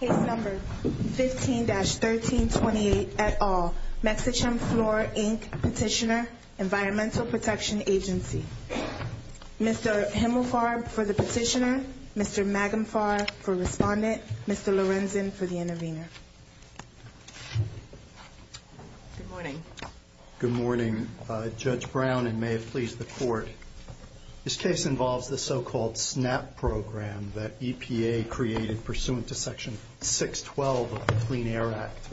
Case No. 15-1328 et al., Mechichem Fluor, Inc. Petitioner, Environmental Protection Agency Mr. Himmelfarb for the petitioner, Mr. Magenfarb for respondent, Mr. Lorenzen for the intervener Good morning Good morning, Judge Brown and may it please the Court This case involves the so-called SNAP program that EPA created pursuant to Section 612 of the Clean Air Act,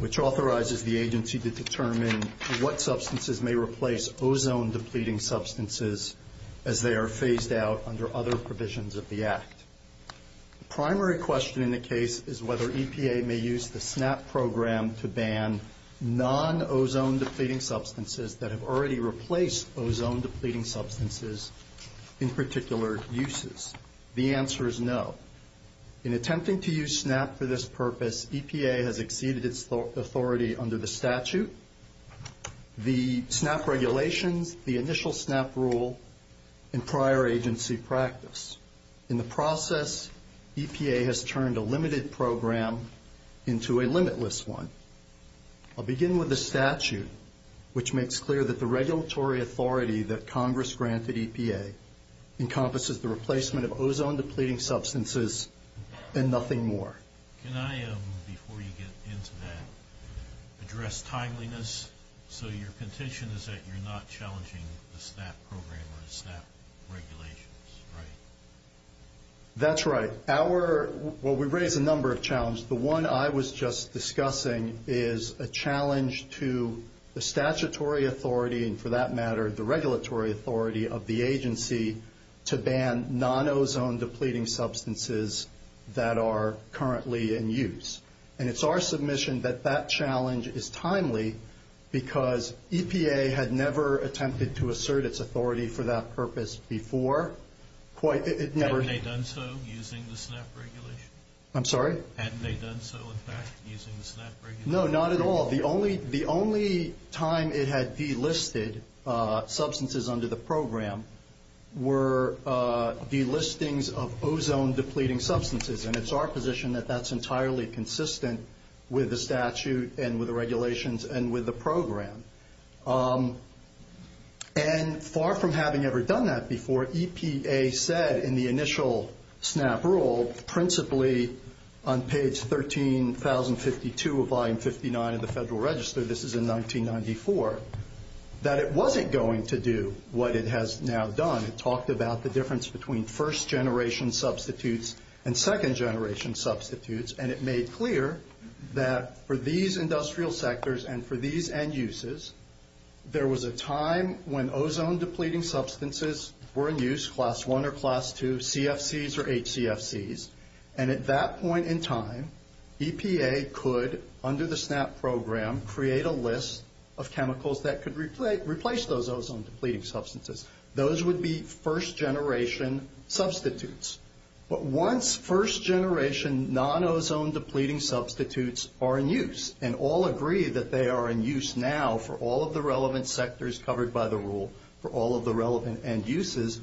which authorizes the agency to determine what substances may replace ozone-depleting substances as they are phased out under other provisions of the Act. The primary question in the case is whether EPA may use the SNAP program to ban non-ozone-depleting substances that have already replaced ozone-depleting substances in particular uses. The answer is no. In attempting to use SNAP for this purpose, EPA has exceeded its authority under the statute, the SNAP regulations, the initial SNAP rule, and prior agency practice. In the process, EPA has turned a limited program into a limitless one. I'll begin with the statute, which makes clear that the regulatory authority that Congress granted EPA encompasses the replacement of ozone-depleting substances and nothing more. Can I, before you get into that, address timeliness? So your petition is that you're not challenging the SNAP program or the SNAP regulations, right? That's right. Well, we raise a number of challenges. The one I was just discussing is a challenge to the statutory authority, and for that matter, the regulatory authority of the agency to ban non-ozone-depleting substances that are currently in use. And it's our submission that that challenge is timely because EPA had never attempted to assert its authority for that purpose before. Hadn't they done so using the SNAP regulations? I'm sorry? Hadn't they done so, in fact, using the SNAP regulations? No, not at all. The only time it had delisted substances under the program were delistings of ozone-depleting substances, and it's our position that that's entirely consistent with the statute and with the regulations and with the program. And far from having ever done that before, EPA said in the initial SNAP rule, principally on page 13,052 of Volume 59 of the Federal Register, this is in 1994, that it wasn't going to do what it has now done. It talked about the difference between first-generation substitutes and second-generation substitutes, and it made clear that for these industrial sectors and for these end-uses, there was a time when ozone-depleting substances were in use, Class I or Class II, CFCs or HCFCs, and at that point in time, EPA could, under the SNAP program, create a list of chemicals that could replace those ozone-depleting substances. Those would be first-generation substitutes. But once first-generation non-ozone-depleting substitutes are in use and all agree that they are in use now for all of the relevant sectors covered by the rule for all of the relevant end-uses,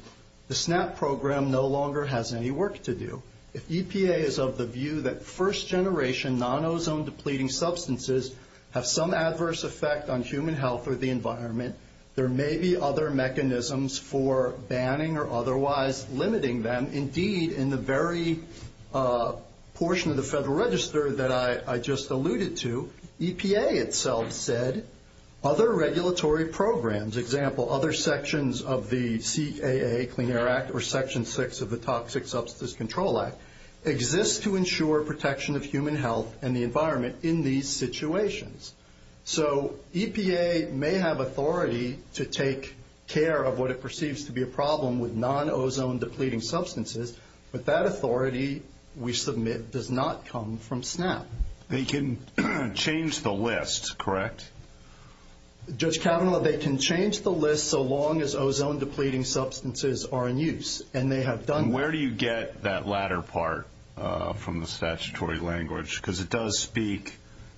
the SNAP program no longer has any work to do. If EPA is of the view that first-generation non-ozone-depleting substances have some adverse effect on human health or the environment, there may be other mechanisms for banning or otherwise limiting them. Indeed, in the very portion of the Federal Register that I just alluded to, EPA itself said other regulatory programs, example, other sections of the CAA Clean Air Act or Section VI of the Toxic Substance Control Act, exist to ensure protection of human health and the authority to take care of what it perceives to be a problem with non-ozone-depleting substances, but that authority, we submit, does not come from SNAP. They can change the list, correct? Judge Kavanaugh, they can change the list so long as ozone-depleting substances are in use, and they have done that. And where do you get that latter part from the statutory language? Because it does not speak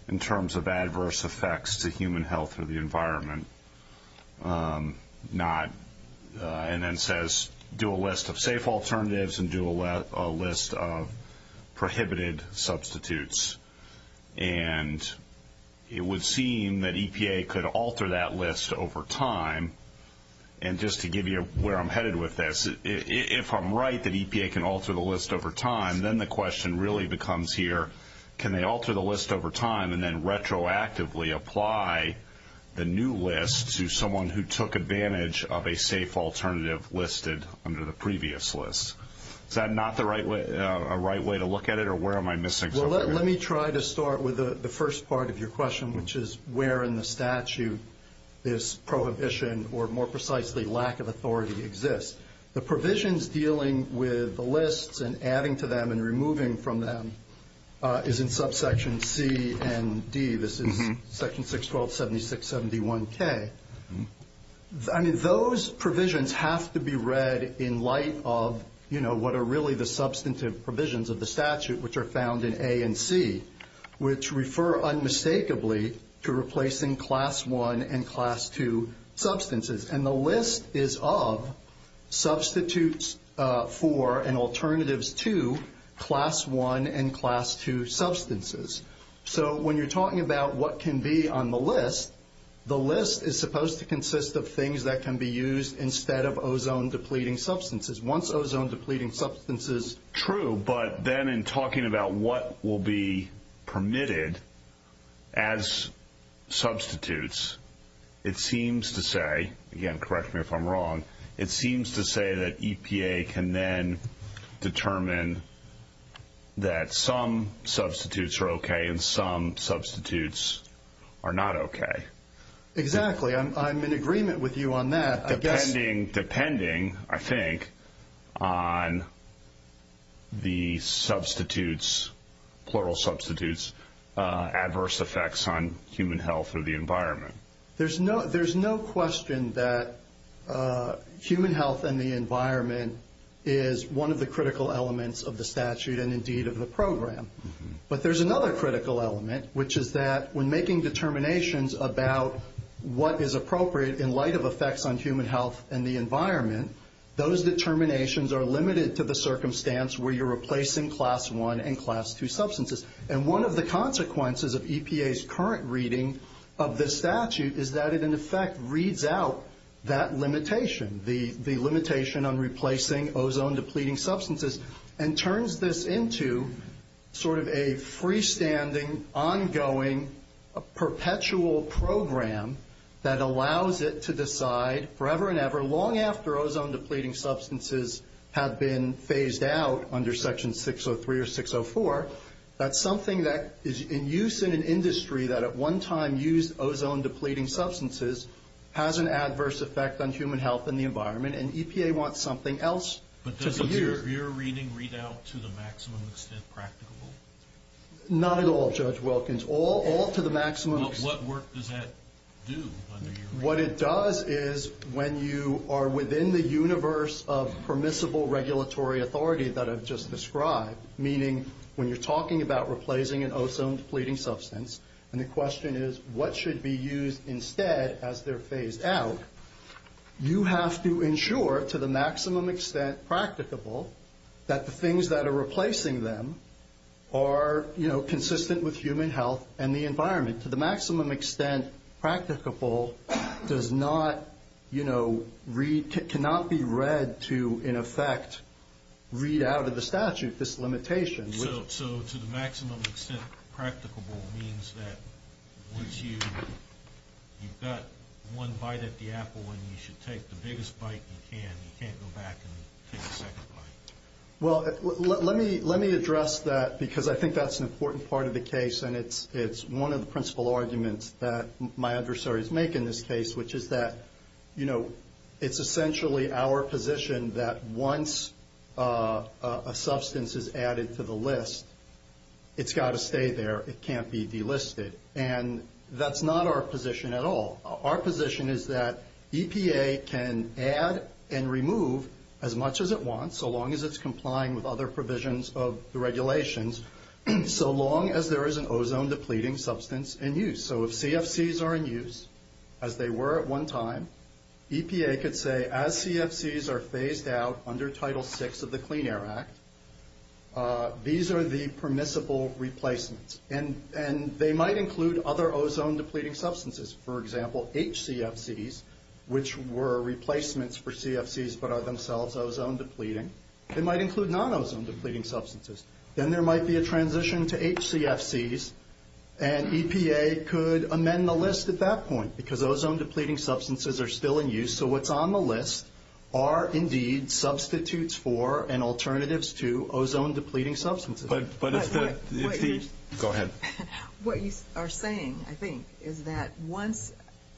in terms of adverse effects to human health or the environment, and then says do a list of safe alternatives and do a list of prohibited substitutes. And it would seem that EPA could alter that list over time, and just to give you where I'm headed with this, if I'm right that EPA can alter the list over time, then the question really becomes here, can they alter the list over time and then retroactively apply the new list to someone who took advantage of a safe alternative listed under the previous list? Is that not a right way to look at it, or where am I missing something? Well, let me try to start with the first part of your question, which is where in the statute this prohibition, or more precisely lack of authority, exists. The provisions dealing with the lists and adding to them and removing from them is in subsection C and D. This is section 612.76.71k. I mean, those provisions have to be read in light of, you know, what are really the substantive provisions of the statute, which are found in A and C, which refer unmistakably to replacing class 1 and class 2 substances. And the list is of substitutes for and alternatives to class 1 and class 2 substances. So when you're talking about what can be on the list, the list is supposed to consist of things that can be used instead of ozone-depleting substances. Once ozone-depleting substances... True, but then in talking about what will be permitted as substitutes, it seems to say, again, correct me if I'm wrong, it seems to say that EPA can then determine that some substitutes are okay and some substitutes are not okay. Exactly. I'm in agreement with you on that. Depending, I think, on the substitutes, plural substitutes, adverse effects on human health and the environment. There's no question that human health and the environment is one of the critical elements of the statute and indeed of the program. But there's another critical element, which is that when making determinations about what is appropriate in light of effects on human health and the environment, those determinations are limited to the circumstance where you're replacing class 1 and class 2 substances. And one of the consequences of EPA's current reading of this statute is that it, in effect, reads out that limitation, the limitation on replacing ozone-depleting substances, and turns this into sort of a freestanding, ongoing, perpetual program that allows it to decide forever and ever, long after ozone-depleting substances have been phased out under Section 603 or 604, that something that is in use in an industry that at one time used ozone-depleting substances has an adverse effect on human health and the environment, and EPA wants something else to be used. But does your reading read out to the maximum extent practicable? Not at all, Judge Wilkins. All to the maximum. Well, what work does that do under your reading? What it does is when you are within the universe of permissible regulatory authority that I've just described, meaning when you're talking about replacing an ozone-depleting substance, and the question is what should be used instead as they're phased out, you have to ensure to the maximum extent practicable that the things that are replacing them are, you know, consistent with human health and the environment. To the maximum extent practicable does not, you know, cannot be read to, in effect, read out of the statute this limitation. So to the maximum extent practicable means that once you've got one bite at the apple and you should take the biggest bite you can, you can't go back and take a second bite. Well, let me address that because I think that's an important part of the case and it's one of the principal arguments that my adversaries make in this case, which is that, you know, it's essentially our position that once a substance is added to the list, it's got to stay there. It can't be delisted. And that's not our position at all. Our position is that EPA can add and remove as much as it wants, so long as it's complying with other provisions of the regulations, so long as there is an ozone-depleting substance in use. So if CFCs are in use, as they were at one time, EPA could say, as CFCs are phased out under Title VI of the Clean Air Act, these are the permissible replacements. And they might include other ozone-depleting substances. For example, HCFCs, which were replacements for CFCs but are themselves ozone-depleting. They might include non-ozone-depleting substances. Then there might be a transition to HCFCs, and EPA could amend the list at that point because ozone-depleting substances are still in use. So what's on the list are indeed substitutes for and alternatives to ozone-depleting substances. But if the – go ahead. What you are saying, I think, is that once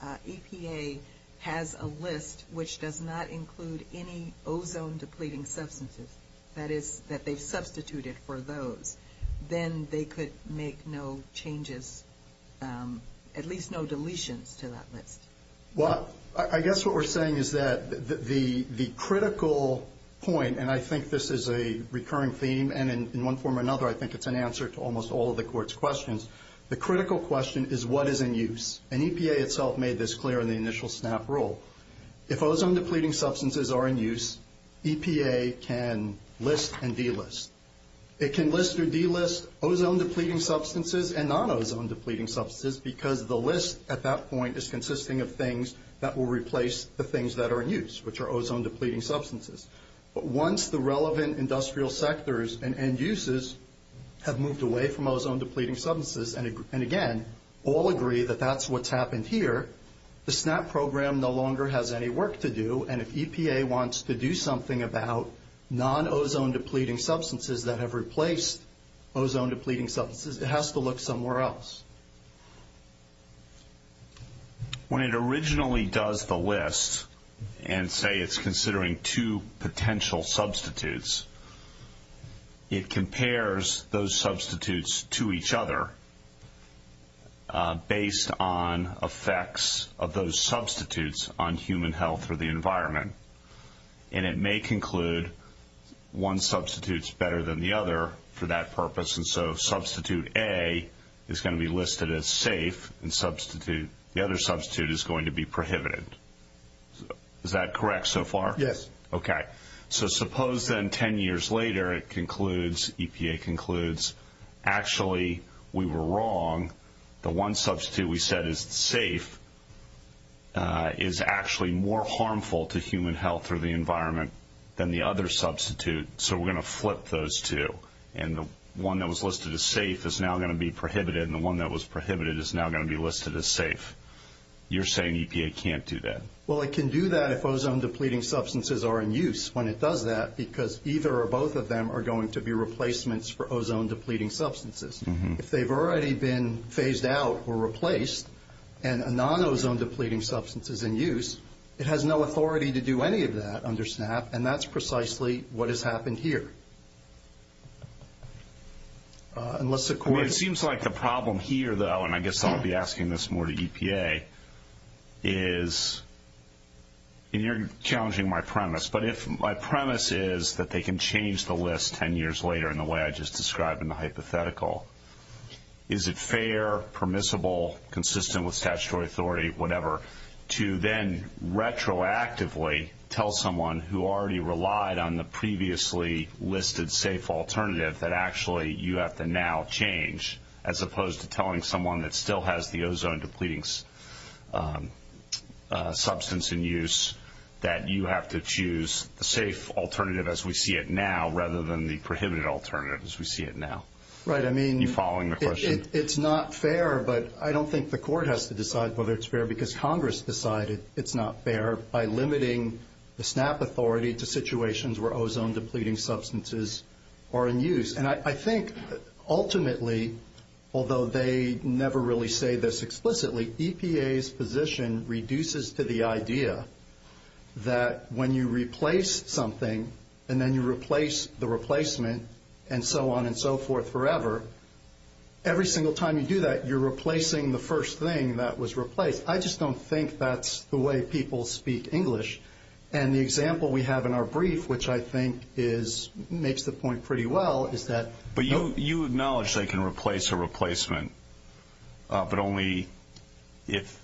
EPA has a list which does not include any ozone-depleting substances, that is, that they've substituted for those, then they could make no changes, at least no deletions to that list. Well, I guess what we're saying is that the critical point, and I think this is a recurring theme, and in one form or another I think it's an answer to almost all of the Court's questions, the critical question is what is in use. And EPA itself made this clear in the initial SNAP rule. If ozone-depleting substances are in use, EPA can list and delist. It can list or delist ozone-depleting substances and non-ozone-depleting substances because the list at that point is consisting of things that will replace the things that are in use, which are ozone-depleting substances. But once the relevant industrial sectors and uses have moved away from ozone-depleting substances, and again, all agree that that's what's happened here, the SNAP program no longer has any work to do, and if EPA wants to do something about non-ozone-depleting substances that have replaced ozone-depleting substances, it has to look somewhere else. When it originally does the list and say it's considering two potential substitutes, it compares those substitutes to each other based on effects of those substitutes on human health or the environment. And it may conclude one substitute's better than the other for that purpose, and so substitute A is going to be listed as safe, and the other substitute is going to be prohibited. Is that correct so far? Yes. Okay. So suppose then 10 years later it concludes, EPA concludes, actually we were wrong, the one substitute we said is safe is actually more harmful to human health or the environment than the other substitute, so we're going to flip those two. And the one that was listed as safe is now going to be prohibited, and the one that was prohibited is now going to be listed as safe. You're saying EPA can't do that. Well, it can do that if ozone-depleting substances are in use when it does that, because either or both of them are going to be replacements for ozone-depleting substances. If they've already been phased out or replaced and a non-ozone-depleting substance is in use, it has no authority to do any of that under SNAP, and that's precisely what has happened here. It seems like the problem here, though, and I guess I'll be asking this more to EPA, is, and you're challenging my premise, but if my premise is that they can change the list 10 years later in the way I just described in the hypothetical, is it fair, permissible, consistent with statutory authority, whatever, to then retroactively tell someone who already relied on the previously listed safe alternative that actually you have to now change as opposed to telling someone that still has the ozone-depleting substance in use that you have to choose the safe alternative as we see it now rather than the prohibited alternative as we see it now? Are you following my question? It's not fair, but I don't think the court has to decide whether it's fair because Congress decided it's not fair by limiting the SNAP authority to situations where ozone-depleting substances are in use. And I think ultimately, although they never really say this explicitly, EPA's position reduces to the idea that when you replace something and then you replace the replacement and so on and so forth forever, every single time you do that, you're replacing the first thing that was replaced. I just don't think that's the way people speak English. And the example we have in our brief, which I think makes the point pretty well, is that- But you acknowledge they can replace a replacement, but only if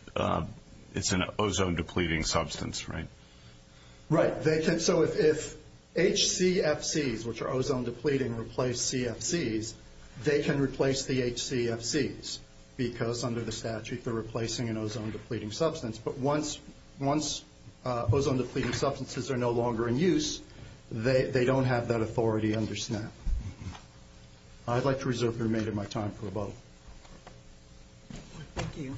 it's an ozone-depleting substance, right? Right. So if HCFCs, which are ozone-depleting, replace CFCs, they can replace the HCFCs because under the statute they're replacing an ozone-depleting substance. But once ozone-depleting substances are no longer in use, they don't have that authority under SNAP. I'd like to reserve the remainder of my time for a vote. Thank you.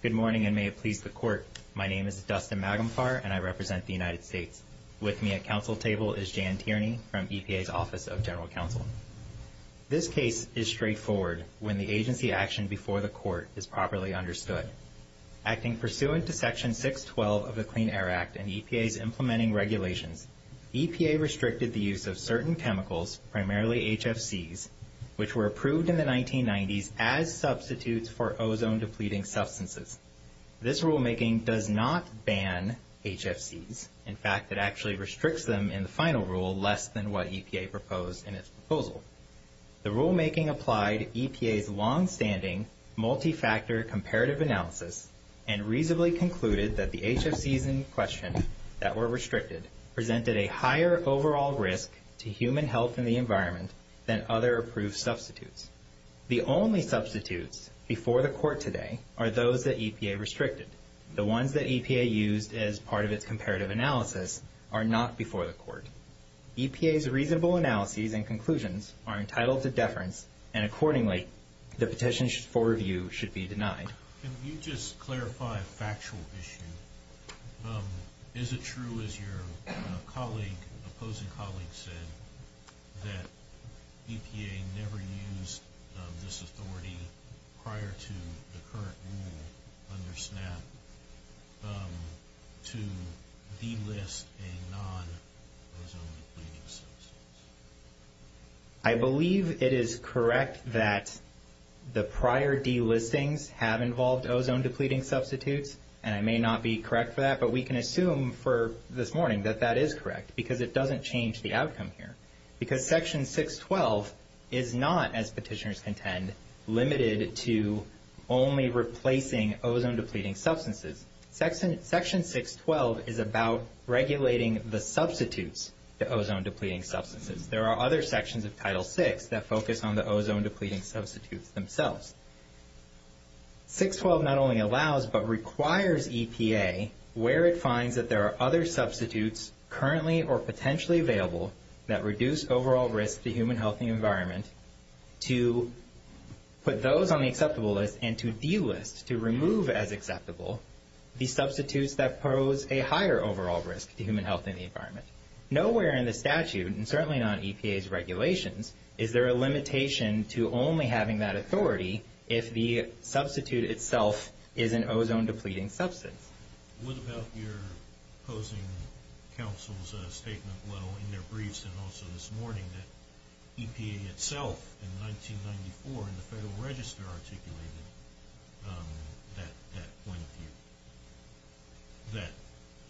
Good morning, and may it please the Court. My name is Dustin Magumfar, and I represent the United States. With me at Council table is Jan Tierney from EPA's Office of General Counsel. This case is straightforward when the agency action before the Court is properly understood. Acting pursuant to Section 612 of the Clean Air Act and EPA's implementing regulations, EPA restricted the use of certain chemicals, primarily HFCs, which were approved in the 1990s as substitutes for ozone-depleting substances. This rulemaking does not ban HFCs. In fact, it actually restricts them in the final rule less than what EPA proposed in its proposal. The rulemaking applied EPA's longstanding multi-factor comparative analysis and reasonably concluded that the HFCs in question that were restricted presented a higher overall risk to human health and the environment than other approved substitutes. The only substitutes before the Court today are those that EPA restricted. The ones that EPA used as part of its comparative analysis are not before the Court. EPA's reasonable analyses and conclusions are entitled to deference, and accordingly, the petition for review should be denied. Can you just clarify a factual issue? Is it true, as your opposing colleague said, that EPA never used this authority prior to the current rule under SNAP to delist a non-ozone-depleting substance? I believe it is correct that the prior delistings have involved ozone-depleting substitutes, and I may not be correct for that, but we can assume for this morning that that is correct because it doesn't change the outcome here. Because Section 612 is not, as petitioners contend, limited to only replacing ozone-depleting substances. Section 612 is about regulating the substitutes to ozone-depleting substances. There are other sections of Title VI that focus on the ozone-depleting substitutes themselves. 612 not only allows but requires EPA, where it finds that there are other substitutes currently or potentially available that reduce overall risk to human health and the environment, to put those on the acceptable list and to delist, to remove as acceptable, the substitutes that pose a higher overall risk to human health and the environment. Nowhere in the statute, and certainly not in EPA's regulations, is there a limitation to only having that authority if the substitute itself is an ozone-depleting substance. What about your opposing counsel's statement in their briefs and also this morning that EPA itself in 1994 in the Federal Register articulated that point of view,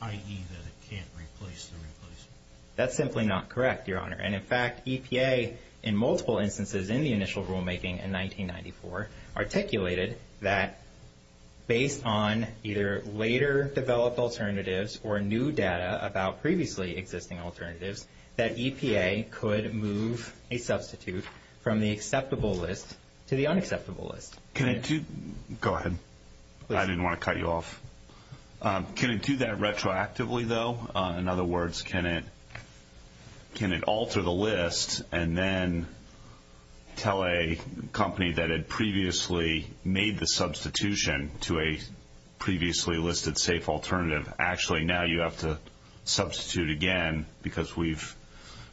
i.e. that it can't replace the replacement? That's simply not correct, Your Honor. In fact, EPA in multiple instances in the initial rulemaking in 1994 articulated that based on either later developed alternatives or new data about previously existing alternatives, that EPA could move a substitute from the acceptable list to the unacceptable list. Go ahead. I didn't want to cut you off. Can it do that retroactively, though? In other words, can it alter the list and then tell a company that it previously made the substitution to a previously listed safe alternative, actually now you have to substitute again because we've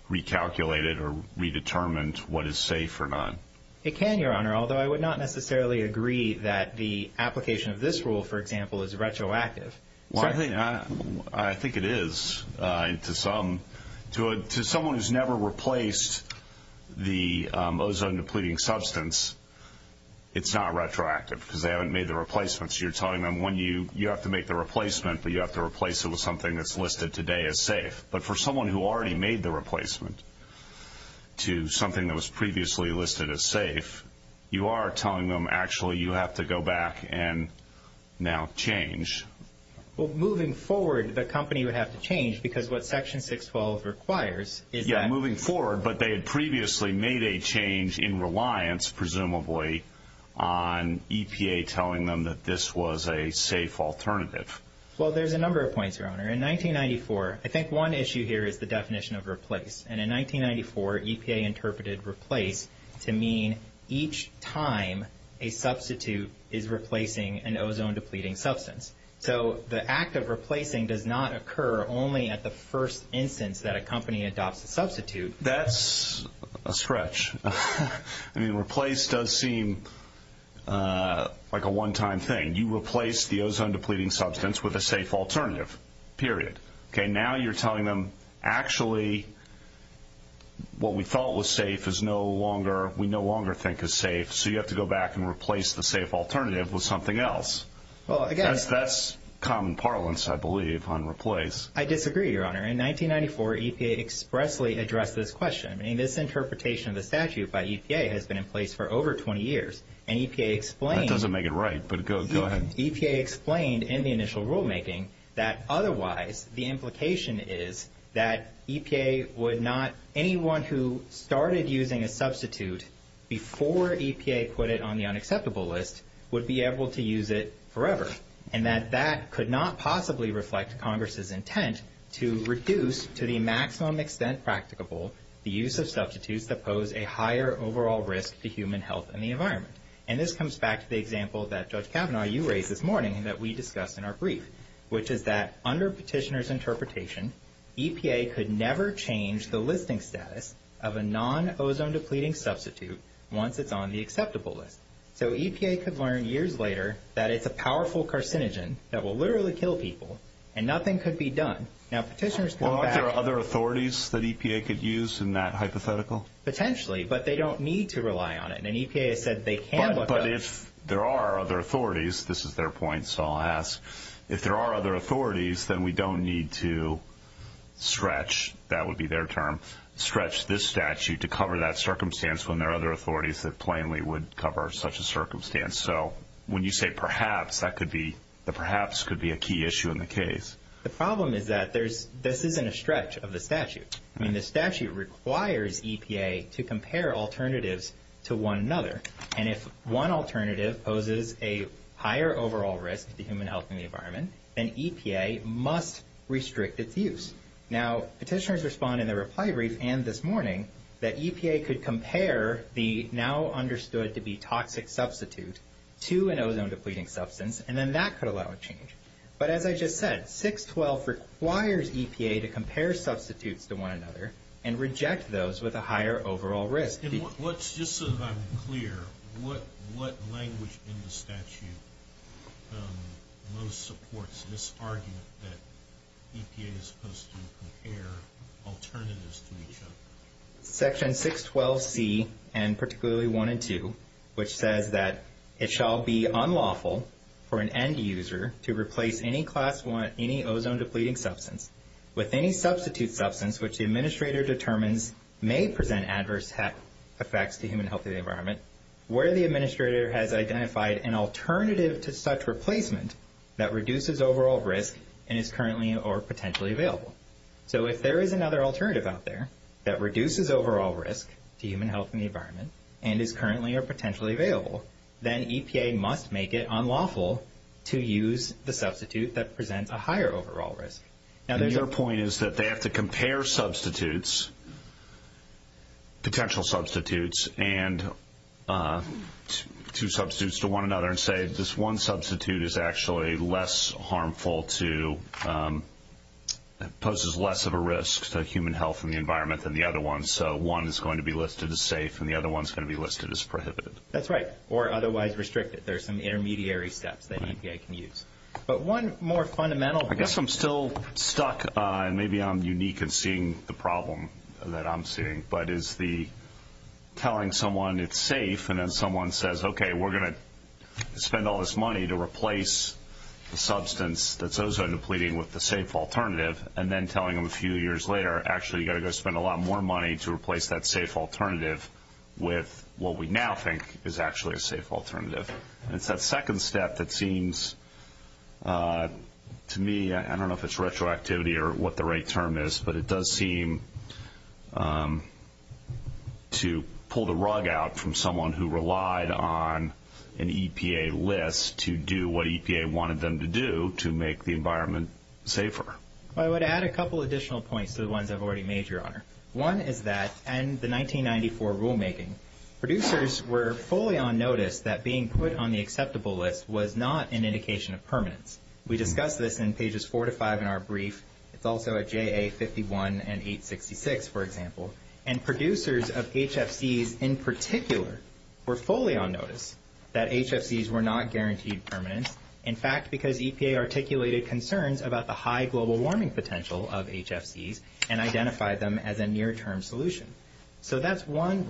recalculated or redetermined what is safe or not? It can, Your Honor, although I would not necessarily agree that the application of this rule, for example, is retroactive. I think it is to some. To someone who's never replaced the ozone-depleting substance, it's not retroactive because they haven't made the replacement. So you're telling them you have to make the replacement, but you have to replace it with something that's listed today as safe. But for someone who already made the replacement to something that was previously listed as safe, you are telling them actually you have to go back and now change. Well, moving forward, the company would have to change because what Section 612 requires is that Yeah, moving forward, but they had previously made a change in reliance, presumably, on EPA telling them that this was a safe alternative. Well, there's a number of points, Your Honor. In 1994, I think one issue here is the definition of replace, and in 1994, EPA interpreted replace to mean each time a substitute is replacing an ozone-depleting substance. So the act of replacing does not occur only at the first instance that a company adopts a substitute. That's a stretch. I mean, replace does seem like a one-time thing. You replace the ozone-depleting substance with a safe alternative, period. Okay, now you're telling them actually what we thought was safe we no longer think is safe, so you have to go back and replace the safe alternative with something else. That's common parlance, I believe, on replace. I disagree, Your Honor. In 1994, EPA expressly addressed this question. I mean, this interpretation of the statute by EPA has been in place for over 20 years, and EPA explained That doesn't make it right, but go ahead. in the initial rulemaking that otherwise the implication is that EPA would not anyone who started using a substitute before EPA put it on the unacceptable list would be able to use it forever, and that that could not possibly reflect Congress's intent to reduce to the maximum extent practicable the use of substitutes that pose a higher overall risk to human health and the environment. And this comes back to the example that Judge Kavanaugh, you raised this morning, that we discussed in our brief, which is that under petitioner's interpretation, EPA could never change the listing status of a non-ozone-depleting substitute once it's on the acceptable list. So EPA could learn years later that it's a powerful carcinogen that will literally kill people, and nothing could be done. Now, petitioners come back Aren't there other authorities that EPA could use in that hypothetical? Potentially, but they don't need to rely on it. And EPA has said they can look up But if there are other authorities, this is their point, so I'll ask, if there are other authorities, then we don't need to stretch, that would be their term, stretch this statute to cover that circumstance when there are other authorities that plainly would cover such a circumstance. So when you say perhaps, that could be, the perhaps could be a key issue in the case. The problem is that this isn't a stretch of the statute. I mean, the statute requires EPA to compare alternatives to one another. And if one alternative poses a higher overall risk to human health and the environment, then EPA must restrict its use. Now, petitioners respond in their reply brief, and this morning, that EPA could compare the now-understood-to-be-toxic substitute to an ozone-depleting substance, and then that could allow a change. But as I just said, 612 requires EPA to compare substitutes to one another and reject those with a higher overall risk. Just so that I'm clear, what language in the statute most supports this argument that EPA is supposed to compare alternatives to each other? Section 612C, and particularly 1 and 2, which says that it shall be unlawful for an end user to replace any class 1, any ozone-depleting substance with any substitute substance which the administrator determines may present adverse effects to human health and the environment, where the administrator has identified an alternative to such replacement that reduces overall risk and is currently or potentially available. So if there is another alternative out there that reduces overall risk to human health and the environment and is currently or potentially available, then EPA must make it unlawful to use the substitute that presents a higher overall risk. Now, there's your point is that they have to compare substitutes, potential substitutes, and two substitutes to one another and say this one substitute is actually less harmful to, poses less of a risk to human health and the environment than the other one, and so one is going to be listed as safe and the other one is going to be listed as prohibited. That's right, or otherwise restricted. There are some intermediary steps that EPA can use. But one more fundamental point. I guess I'm still stuck, and maybe I'm unique in seeing the problem that I'm seeing, but is the telling someone it's safe and then someone says, okay, we're going to spend all this money to replace the substance that's ozone-depleting with the safe alternative, and then telling them a few years later, actually you've got to go spend a lot more money to replace that safe alternative with what we now think is actually a safe alternative. It's that second step that seems to me, I don't know if it's retroactivity or what the right term is, but it does seem to pull the rug out from someone who relied on an EPA list to do what EPA wanted them to do to make the environment safer. I would add a couple additional points to the ones I've already made, Your Honor. One is that in the 1994 rulemaking, producers were fully on notice that being put on the acceptable list was not an indication of permanence. We discussed this in pages 4 to 5 in our brief. It's also at JA 51 and 866, for example. And producers of HFCs in particular were fully on notice that HFCs were not guaranteed permanence, in fact, because EPA articulated concerns about the high global warming potential of HFCs and identified them as a near-term solution. So that's one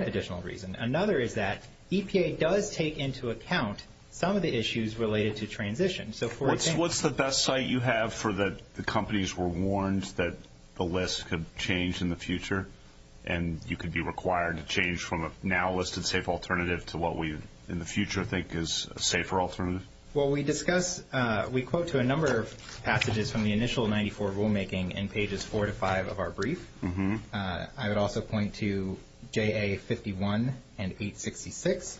additional reason. Another is that EPA does take into account some of the issues related to transition. What's the best site you have for the companies were warned that the list could change in the future and you could be required to change from a now listed safe alternative to what we in the future think is a safer alternative? Well, we discuss, we quote to a number of passages from the initial 94 rulemaking in pages 4 to 5 of our brief. I would also point to JA 51 and 866.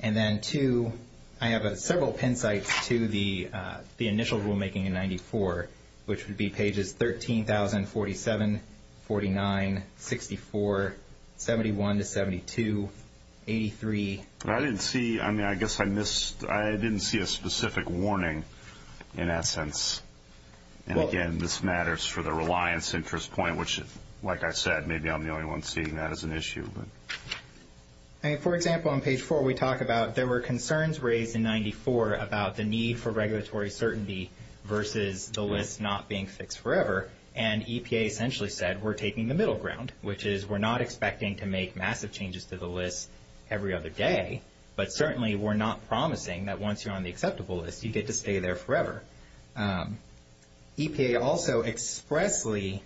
And then two, I have several pen sites to the initial rulemaking in 94, which would be pages 13,047, 49, 64, 71 to 72, 83. I didn't see, I mean, I guess I missed, I didn't see a specific warning in that sense. And again, this matters for the reliance interest point, which, like I said, maybe I'm the only one seeing that as an issue. For example, on page 4, we talk about there were concerns raised in 94 about the need for regulatory certainty versus the list not being fixed forever. And EPA essentially said, we're taking the middle ground, which is we're not expecting to make massive changes to the list every other day, but certainly we're not promising that once you're on the acceptable list, you get to stay there forever. EPA also expressly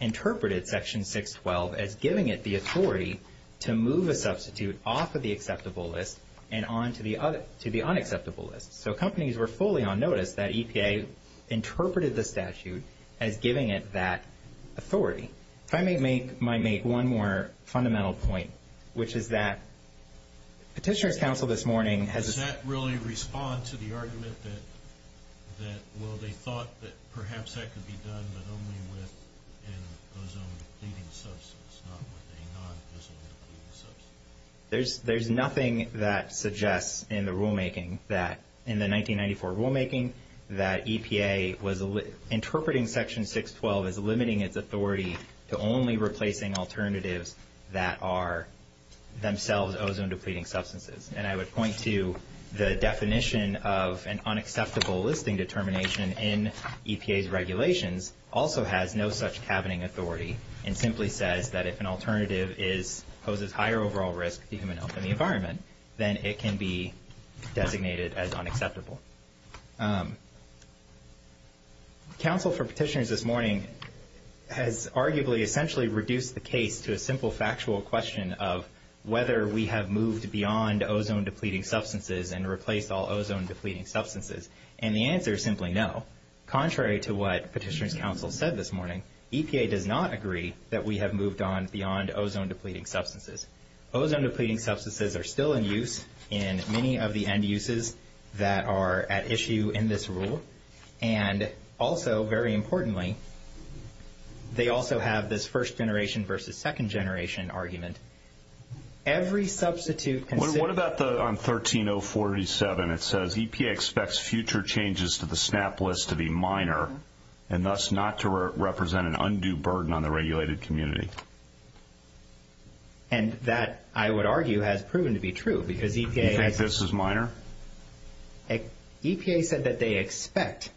interpreted Section 612 as giving it the authority to move a substitute off of the acceptable list and on to the unacceptable list. So companies were fully on notice that EPA interpreted the statute as giving it that authority. If I may make one more fundamental point, which is that Petitioner's Council this morning has... Does that really respond to the argument that, well, they thought that perhaps that could be done, but only with an ozone-depleting substance, not with a non-ozone-depleting substance? There's nothing that suggests in the rulemaking that in the 1994 rulemaking that EPA was interpreting Section 612 as limiting its authority to only replacing alternatives that are themselves ozone-depleting substances. And I would point to the definition of an unacceptable listing determination in EPA's regulations also has no such cabining authority and simply says that if an alternative poses higher overall risk to human health and the environment, then it can be designated as unacceptable. Council for Petitioners this morning has arguably essentially reduced the case to a simple factual question of whether we have moved beyond ozone-depleting substances and replaced all ozone-depleting substances. And the answer is simply no. Contrary to what Petitioner's Council said this morning, EPA does not agree that we have moved on beyond ozone-depleting substances. Ozone-depleting substances are still in use in many of the end uses that are at issue in this rule. And also, very importantly, they also have this first-generation versus second-generation argument. Every substitute... What about on 13047? It says EPA expects future changes to the SNAP list to be minor and thus not to represent an undue burden on the regulated community. And that, I would argue, has proven to be true because EPA... You think this is minor? EPA said that they expect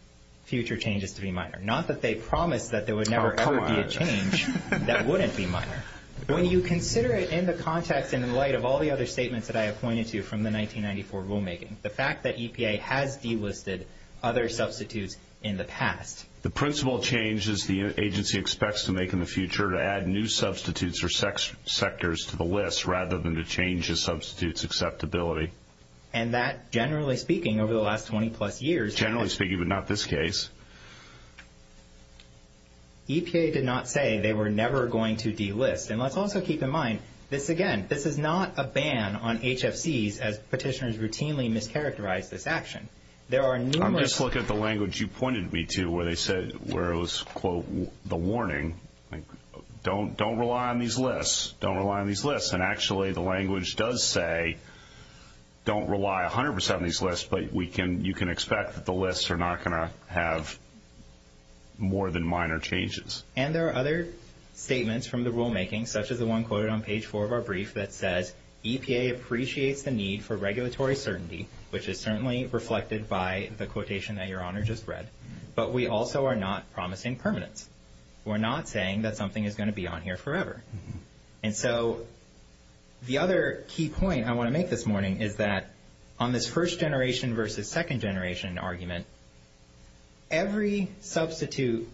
future changes to be minor, not that they promised that there would never ever be a change that wouldn't be minor. When you consider it in the context and in light of all the other statements that I have pointed to from the 1994 rulemaking, the fact that EPA has delisted other substitutes in the past... The principal change is the agency expects to make in the future to add new substitutes or sectors to the list rather than to change a substitute's acceptability. And that, generally speaking, over the last 20-plus years... Generally speaking, but not this case. EPA did not say they were never going to delist. And let's also keep in mind, this again, this is not a ban on HFCs as petitioners routinely mischaracterize this action. There are numerous... I'm just looking at the language you pointed me to where it was, quote, the warning. Don't rely on these lists. Don't rely on these lists. And actually, the language does say don't rely 100% on these lists, but you can expect that the lists are not going to have more than minor changes. And there are other statements from the rulemaking, such as the one quoted on page 4 of our brief, that says EPA appreciates the need for regulatory certainty, which is certainly reflected by the quotation that Your Honor just read, but we also are not promising permanence. We're not saying that something is going to be on here forever. And so the other key point I want to make this morning is that on this first-generation versus second-generation argument, every substitute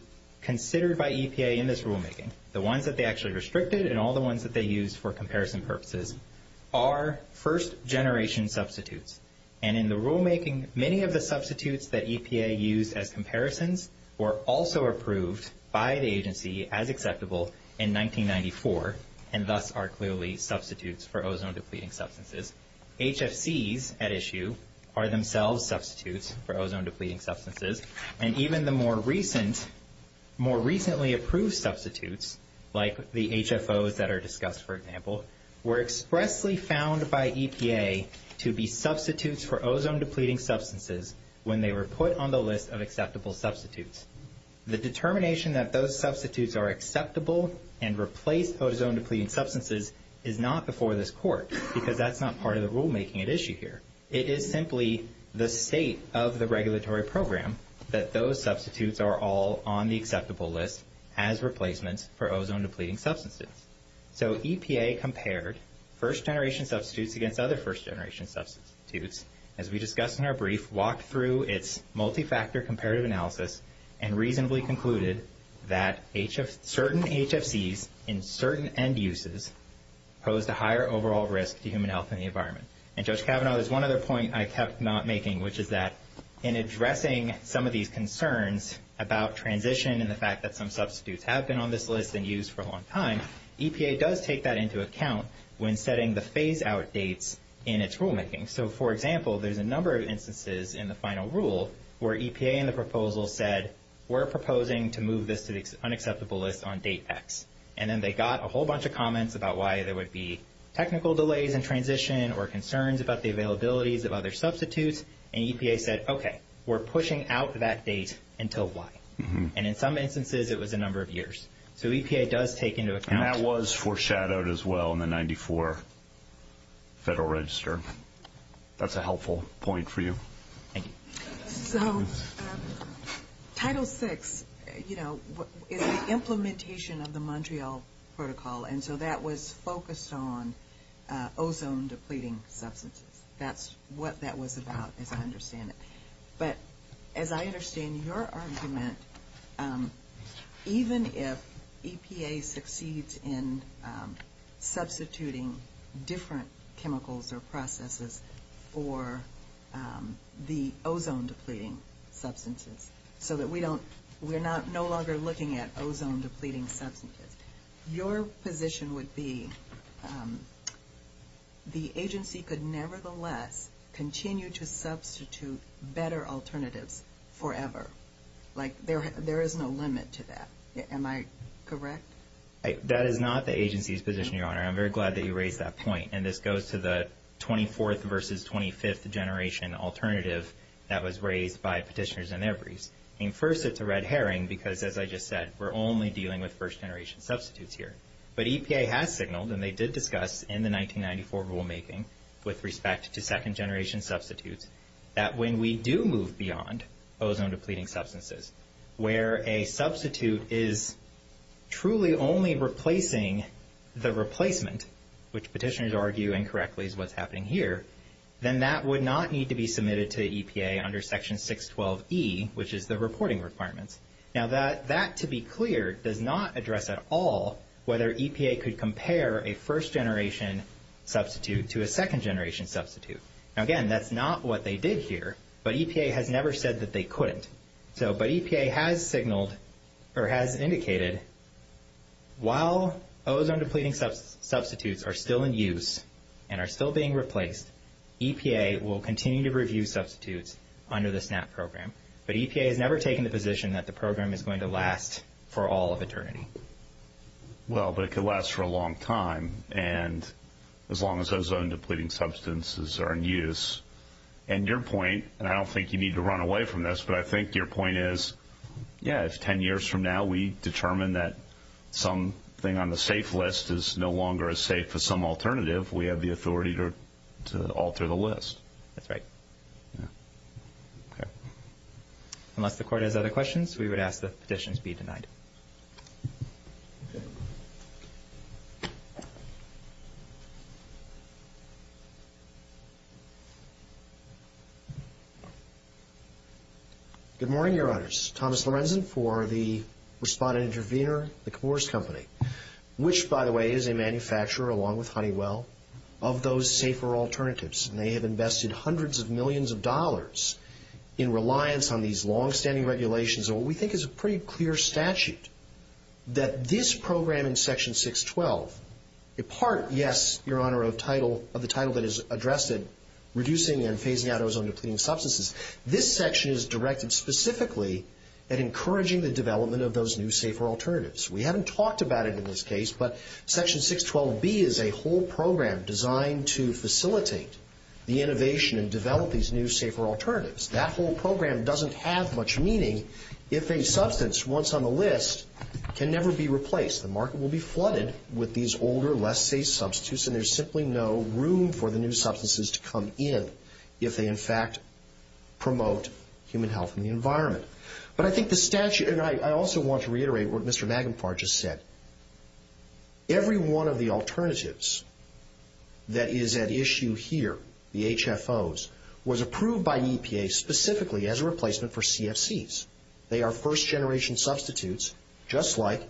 considered by EPA in this rulemaking, the ones that they actually restricted and all the ones that they used for comparison purposes, are first-generation substitutes. And in the rulemaking, many of the substitutes that EPA used as comparisons were also approved by the agency as acceptable in 1994 and thus are clearly substitutes for ozone-depleting substances. HFCs at issue are themselves substitutes for ozone-depleting substances. And even the more recently approved substitutes, like the HFOs that are discussed, for example, were expressly found by EPA to be substitutes for ozone-depleting substances when they were put on the list of acceptable substitutes. The determination that those substitutes are acceptable and replace ozone-depleting substances is not before this Court because that's not part of the rulemaking at issue here. It is simply the state of the regulatory program that those substitutes are all on the acceptable list as replacements for ozone-depleting substances. So EPA compared first-generation substitutes against other first-generation substitutes, as we discussed in our brief, walked through its multi-factor comparative analysis and reasonably concluded that certain HFCs in certain end uses posed a higher overall risk to human health and the environment. And, Judge Kavanaugh, there's one other point I kept not making, which is that in addressing some of these concerns about transition and the fact that some substitutes have been on this list and used for a long time, EPA does take that into account when setting the phase-out dates in its rulemaking. So, for example, there's a number of instances in the final rule where EPA in the proposal said, we're proposing to move this to the unacceptable list on date X. And then they got a whole bunch of comments about why there would be technical delays in transition or concerns about the availabilities of other substitutes. And EPA said, okay, we're pushing out that date until Y. And in some instances, it was a number of years. So EPA does take into account... And that was foreshadowed as well in the 94 Federal Register. That's a helpful point for you. Thank you. So Title VI, you know, is the implementation of the Montreal Protocol. And so that was focused on ozone-depleting substances. That's what that was about, as I understand it. But as I understand your argument, even if EPA succeeds in substituting different chemicals or processes for the ozone-depleting substances so that we're no longer looking at ozone-depleting substances, your position would be the agency could nevertheless continue to substitute better alternatives forever. Like, there is no limit to that. Am I correct? That is not the agency's position, Your Honor. I'm very glad that you raised that point. And this goes to the 24th versus 25th generation alternative that was raised by Petitioners and Evereys. And first, it's a red herring because, as I just said, we're only dealing with first-generation substitutes here. But EPA has signaled, and they did discuss in the 1994 rulemaking with respect to second-generation substitutes, that when we do move beyond ozone-depleting substances, where a substitute is truly only replacing the replacement, which Petitioners argue incorrectly is what's happening here, then that would not need to be submitted to EPA under Section 612E, which is the reporting requirements. Now, that, to be clear, does not address at all whether EPA could compare a first-generation substitute to a second-generation substitute. Now, again, that's not what they did here, but EPA has never said that they couldn't. But EPA has signaled, or has indicated, while ozone-depleting substitutes are still in use and are still being replaced, EPA will continue to review substitutes under the SNAP program. But EPA has never taken the position that the program is going to last for all of eternity. Well, but it could last for a long time, as long as ozone-depleting substances are in use. And your point, and I don't think you need to run away from this, but I think your point is, yeah, if 10 years from now we determine that something on the safe list is no longer as safe as some alternative, we have the authority to alter the list. That's right. Okay. Unless the Court has other questions, we would ask that petitions be denied. Good morning, Your Honors. Thomas Lorenzen for the Respondent-Intervenor, the Comores Company, which, by the way, is a manufacturer, along with Honeywell, of those safer alternatives. And they have invested hundreds of millions of dollars in reliance on these longstanding regulations in what we think is a pretty clear statute, that this program in Section 612, a part, yes, Your Honor, of the title that is addressed in reducing and phasing out ozone-depleting substances, this section is directed specifically at encouraging the development of those new, safer alternatives. We haven't talked about it in this case, but Section 612B is a whole program designed to facilitate the innovation and develop these new, safer alternatives. That whole program doesn't have much meaning if a substance once on the list can never be replaced. The market will be flooded with these older, less safe substitutes, and there's simply no room for the new substances to come in if they, in fact, promote human health and the environment. But I think the statute, and I also want to reiterate what Mr. Magenfar just said, every one of the alternatives that is at issue here, the HFOs, was approved by EPA specifically as a replacement for CFCs. They are first-generation substitutes, just like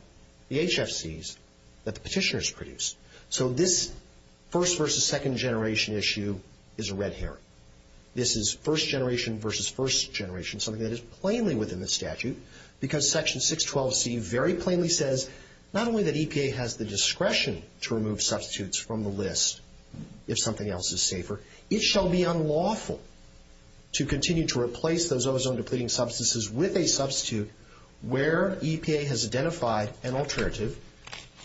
the HFCs that the petitioners produce. So this first-versus-second-generation issue is a red herring. This is first-generation-versus-first-generation, something that is plainly within the statute, because Section 612C very plainly says not only that EPA has the discretion to remove substitutes from the list if something else is safer, it shall be unlawful to continue to replace those ozone-depleting substances with a substitute where EPA has identified an alternative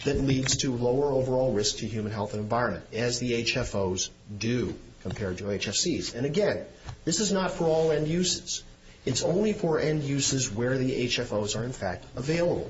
that leads to lower overall risk to human health and environment, as the HFOs do compared to HFCs. And again, this is not for all end uses. It's only for end uses where the HFOs are, in fact, available.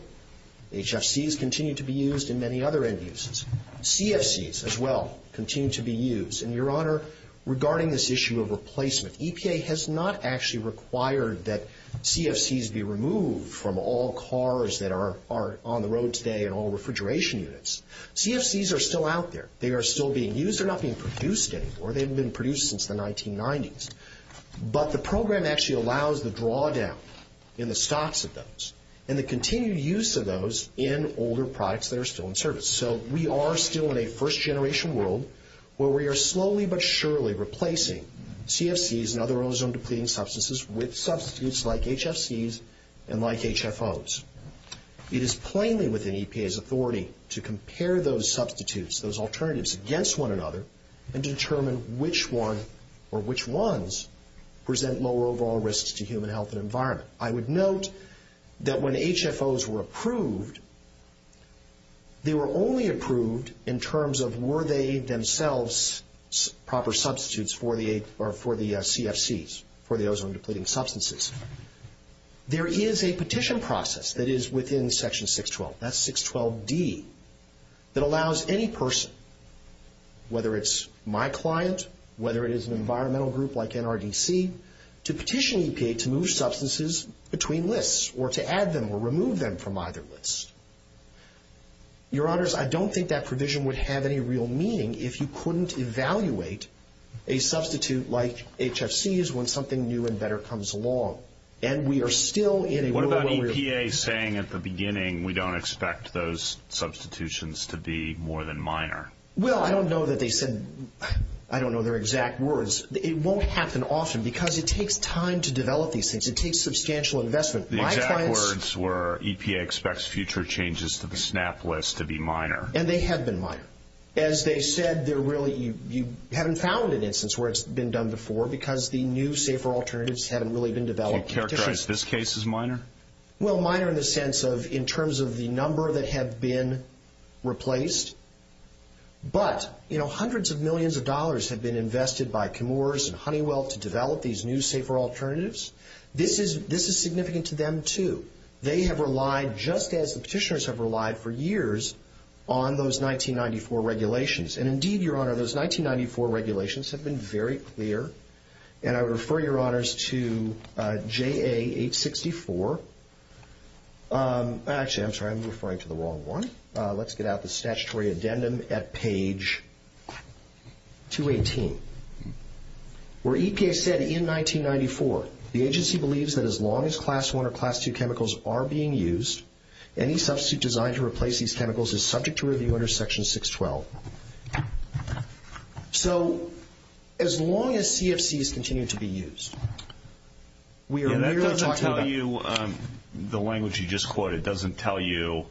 HFCs continue to be used in many other end uses. CFCs, as well, continue to be used. And, Your Honor, regarding this issue of replacement, EPA has not actually required that CFCs be removed from all cars that are on the road today and all refrigeration units. CFCs are still out there. They are still being used. They're not being produced anymore. They haven't been produced since the 1990s. But the program actually allows the drawdown in the stocks of those and the continued use of those in older products that are still in service. So we are still in a first-generation world where we are slowly but surely replacing CFCs and other ozone-depleting substances with substitutes like HFCs and like HFOs. It is plainly within EPA's authority to compare those substitutes, those alternatives, against one another and determine which one or which ones present lower overall risks to human health and environment. I would note that when HFOs were approved, they were only approved in terms of were they themselves proper substitutes for the CFCs, for the ozone-depleting substances. There is a petition process that is within Section 612, that's 612D, that allows any person, whether it's my client, whether it is an environmental group like NRDC, to petition EPA to move substances between lists or to add them or remove them from either lists. Your Honors, I don't think that provision would have any real meaning if you couldn't evaluate a substitute like HFCs when something new and better comes along. And we are still in a world where we're... What about EPA saying at the beginning we don't expect those substitutions to be more than minor? Well, I don't know that they said, I don't know their exact words. It won't happen often because it takes time to develop these things. It takes substantial investment. The exact words were EPA expects future changes to the SNAP list to be minor. And they have been minor. As they said, you haven't found an instance where it's been done before because the new, safer alternatives haven't really been developed. Do you characterize this case as minor? Well, minor in the sense of in terms of the number that have been replaced. But hundreds of millions of dollars have been invested by Chemours and Honeywell to develop these new, safer alternatives. This is significant to them, too. They have relied, just as the petitioners have relied for years, on those 1994 regulations. And indeed, Your Honor, those 1994 regulations have been very clear. And I would refer Your Honors to JA 864. Actually, I'm sorry, I'm referring to the wrong one. Let's get out the statutory addendum at page 218. Where EPA said in 1994, the agency believes that as long as Class I or Class II chemicals are being used, any substitute designed to replace these chemicals is subject to review under Section 612. So as long as CFCs continue to be used, we are merely talking about The language you just quoted doesn't tell you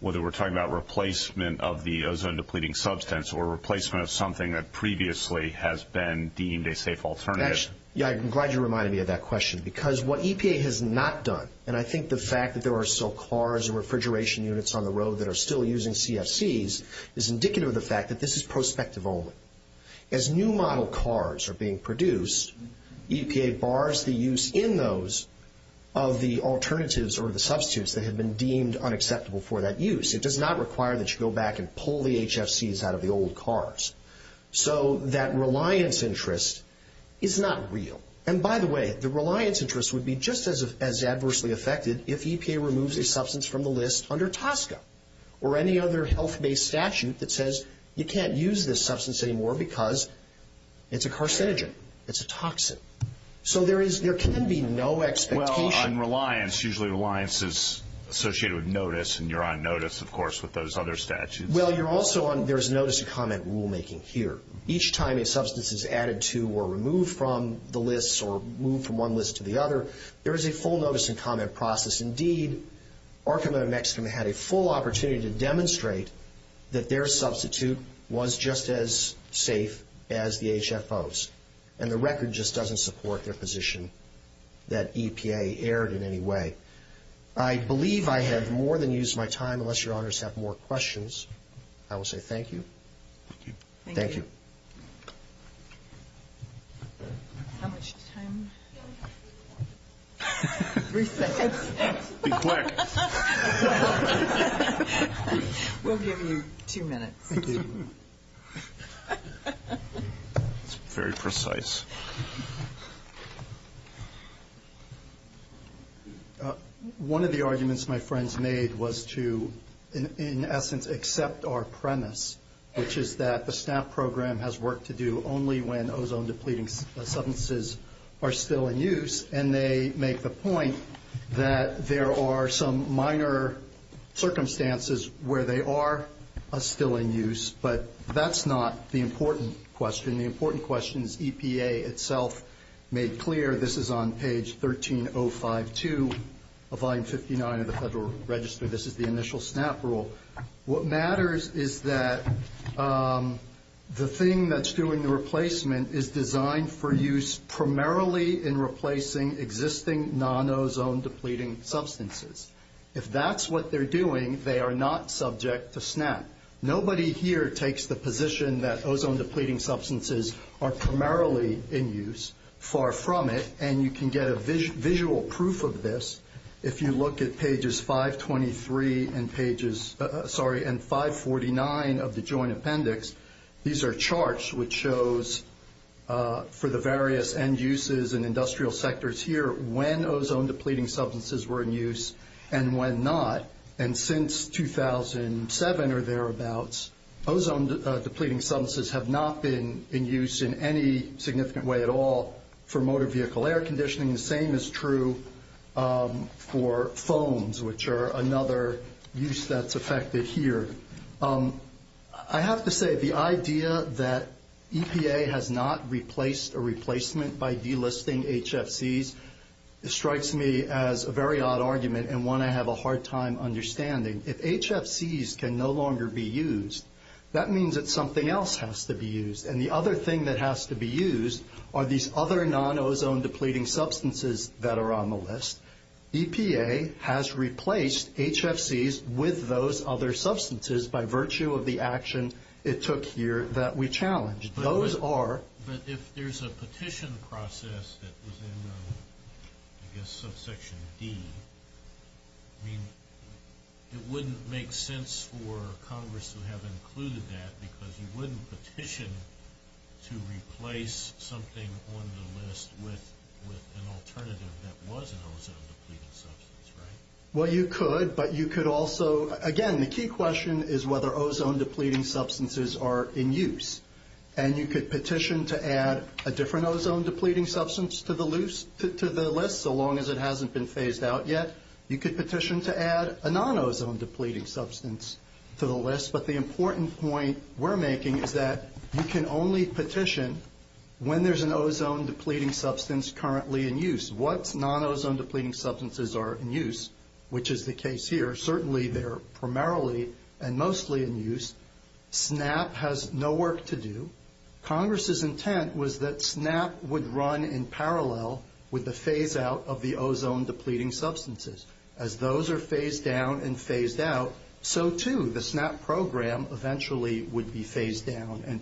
whether we're talking about replacement of the ozone-depleting substance or replacement of something that previously has been deemed a safe alternative. Yeah, I'm glad you reminded me of that question. Because what EPA has not done, and I think the fact that there are still cars and refrigeration units on the road that are still using CFCs, is indicative of the fact that this is prospective only. As new model cars are being produced, EPA bars the use in those of the alternatives or the substitutes that have been deemed unacceptable for that use. It does not require that you go back and pull the HFCs out of the old cars. So that reliance interest is not real. And by the way, the reliance interest would be just as adversely affected if EPA removes a substance from the list under TSCA or any other health-based statute that says you can't use this substance anymore because it's a carcinogen. It's a toxin. So there can be no expectation. Well, on reliance, usually reliance is associated with notice, and you're on notice, of course, with those other statutes. Well, you're also on notice of comment rulemaking here. Each time a substance is added to or removed from the list or moved from one list to the other, there is a full notice and comment process. Indeed, Arkham of Mexico had a full opportunity to demonstrate that their substitute was just as safe as the HFOs, and the record just doesn't support their position that EPA erred in any way. I believe I have more than used my time. Unless Your Honors have more questions, I will say thank you. Thank you. Thank you. How much time? Three seconds. Be quick. We'll give you two minutes. Thank you. That's very precise. One of the arguments my friends made was to, in essence, accept our premise, which is that the SNAP program has work to do only when ozone-depleting substances are still in use, and they make the point that there are some minor circumstances where they are still in use, but that's not the important question. The important question is EPA itself made clear. This is on page 13052 of Volume 59 of the Federal Register. This is the initial SNAP rule. What matters is that the thing that's doing the replacement is designed for use primarily in replacing existing non-ozone-depleting substances. If that's what they're doing, they are not subject to SNAP. Nobody here takes the position that ozone-depleting substances are primarily in use, far from it, and you can get a visual proof of this if you look at pages 523 and 549 of the Joint Appendix. These are charts which shows, for the various end uses and industrial sectors here, when ozone-depleting substances were in use and when not. And since 2007 or thereabouts, ozone-depleting substances have not been in use in any significant way at all for motor vehicle air conditioning. The same is true for foams, which are another use that's affected here. I have to say the idea that EPA has not replaced a replacement by delisting HFCs strikes me as a very odd argument and one I have a hard time understanding. If HFCs can no longer be used, that means that something else has to be used. And the other thing that has to be used are these other non-ozone-depleting substances that are on the list. EPA has replaced HFCs with those other substances by virtue of the action it took here that we challenged. But if there's a petition process that was in, I guess, subsection D, it wouldn't make sense for Congress to have included that because you wouldn't petition to replace something on the list with an alternative that was an ozone-depleting substance, right? Well, you could, but you could also... Again, the key question is whether ozone-depleting substances are in use. And you could petition to add a different ozone-depleting substance to the list, so long as it hasn't been phased out yet. You could petition to add a non-ozone-depleting substance to the list. But the important point we're making is that you can only petition when there's an ozone-depleting substance currently in use. Once non-ozone-depleting substances are in use, which is the case here, certainly they're primarily and mostly in use, SNAP has no work to do. Congress's intent was that SNAP would run in parallel with the phase-out of the ozone-depleting substances. As those are phased down and phased out, so too the SNAP program eventually would be phased down and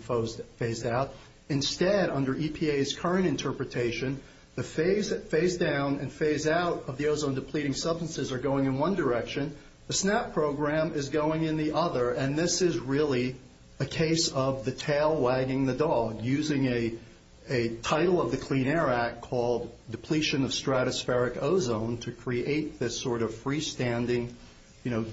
phased out. Instead, under EPA's current interpretation, the phase-down and phase-out of the ozone-depleting substances are going in one direction. The SNAP program is going in the other. And this is really a case of the tail wagging the dog, using a title of the Clean Air Act called Depletion of Stratospheric Ozone to create this sort of freestanding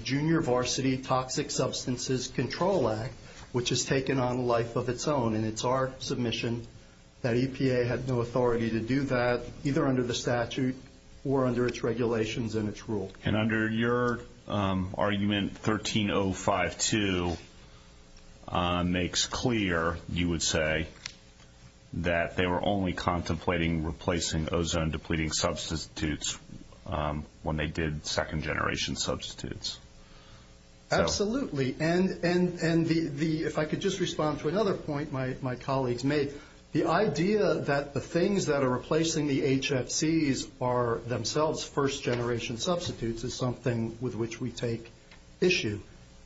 Junior Varsity Toxic Substances Control Act, which has taken on a life of its own. And it's our submission that EPA had no authority to do that, either under the statute or under its regulations and its rule. And under your argument, 13052 makes clear, you would say, that they were only contemplating replacing ozone-depleting substitutes when they did second-generation substitutes. Absolutely. And if I could just respond to another point my colleagues made, the idea that the things that are replacing the HFCs are themselves first-generation substitutes is something with which we take issue.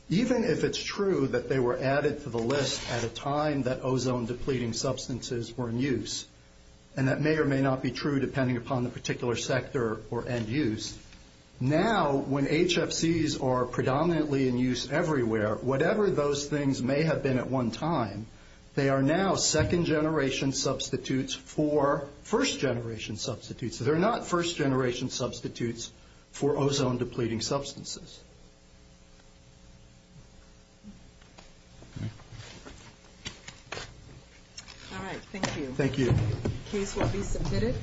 Even if it's true that they were added to the list at a time that ozone-depleting substances were in use, and that may or may not be true depending upon the particular sector or end use, now when HFCs are predominantly in use everywhere, whatever those things may have been at one time, they are now second-generation substitutes for first-generation substitutes. They're not first-generation substitutes for ozone-depleting substances. All right, thank you. Thank you. The case will be submitted.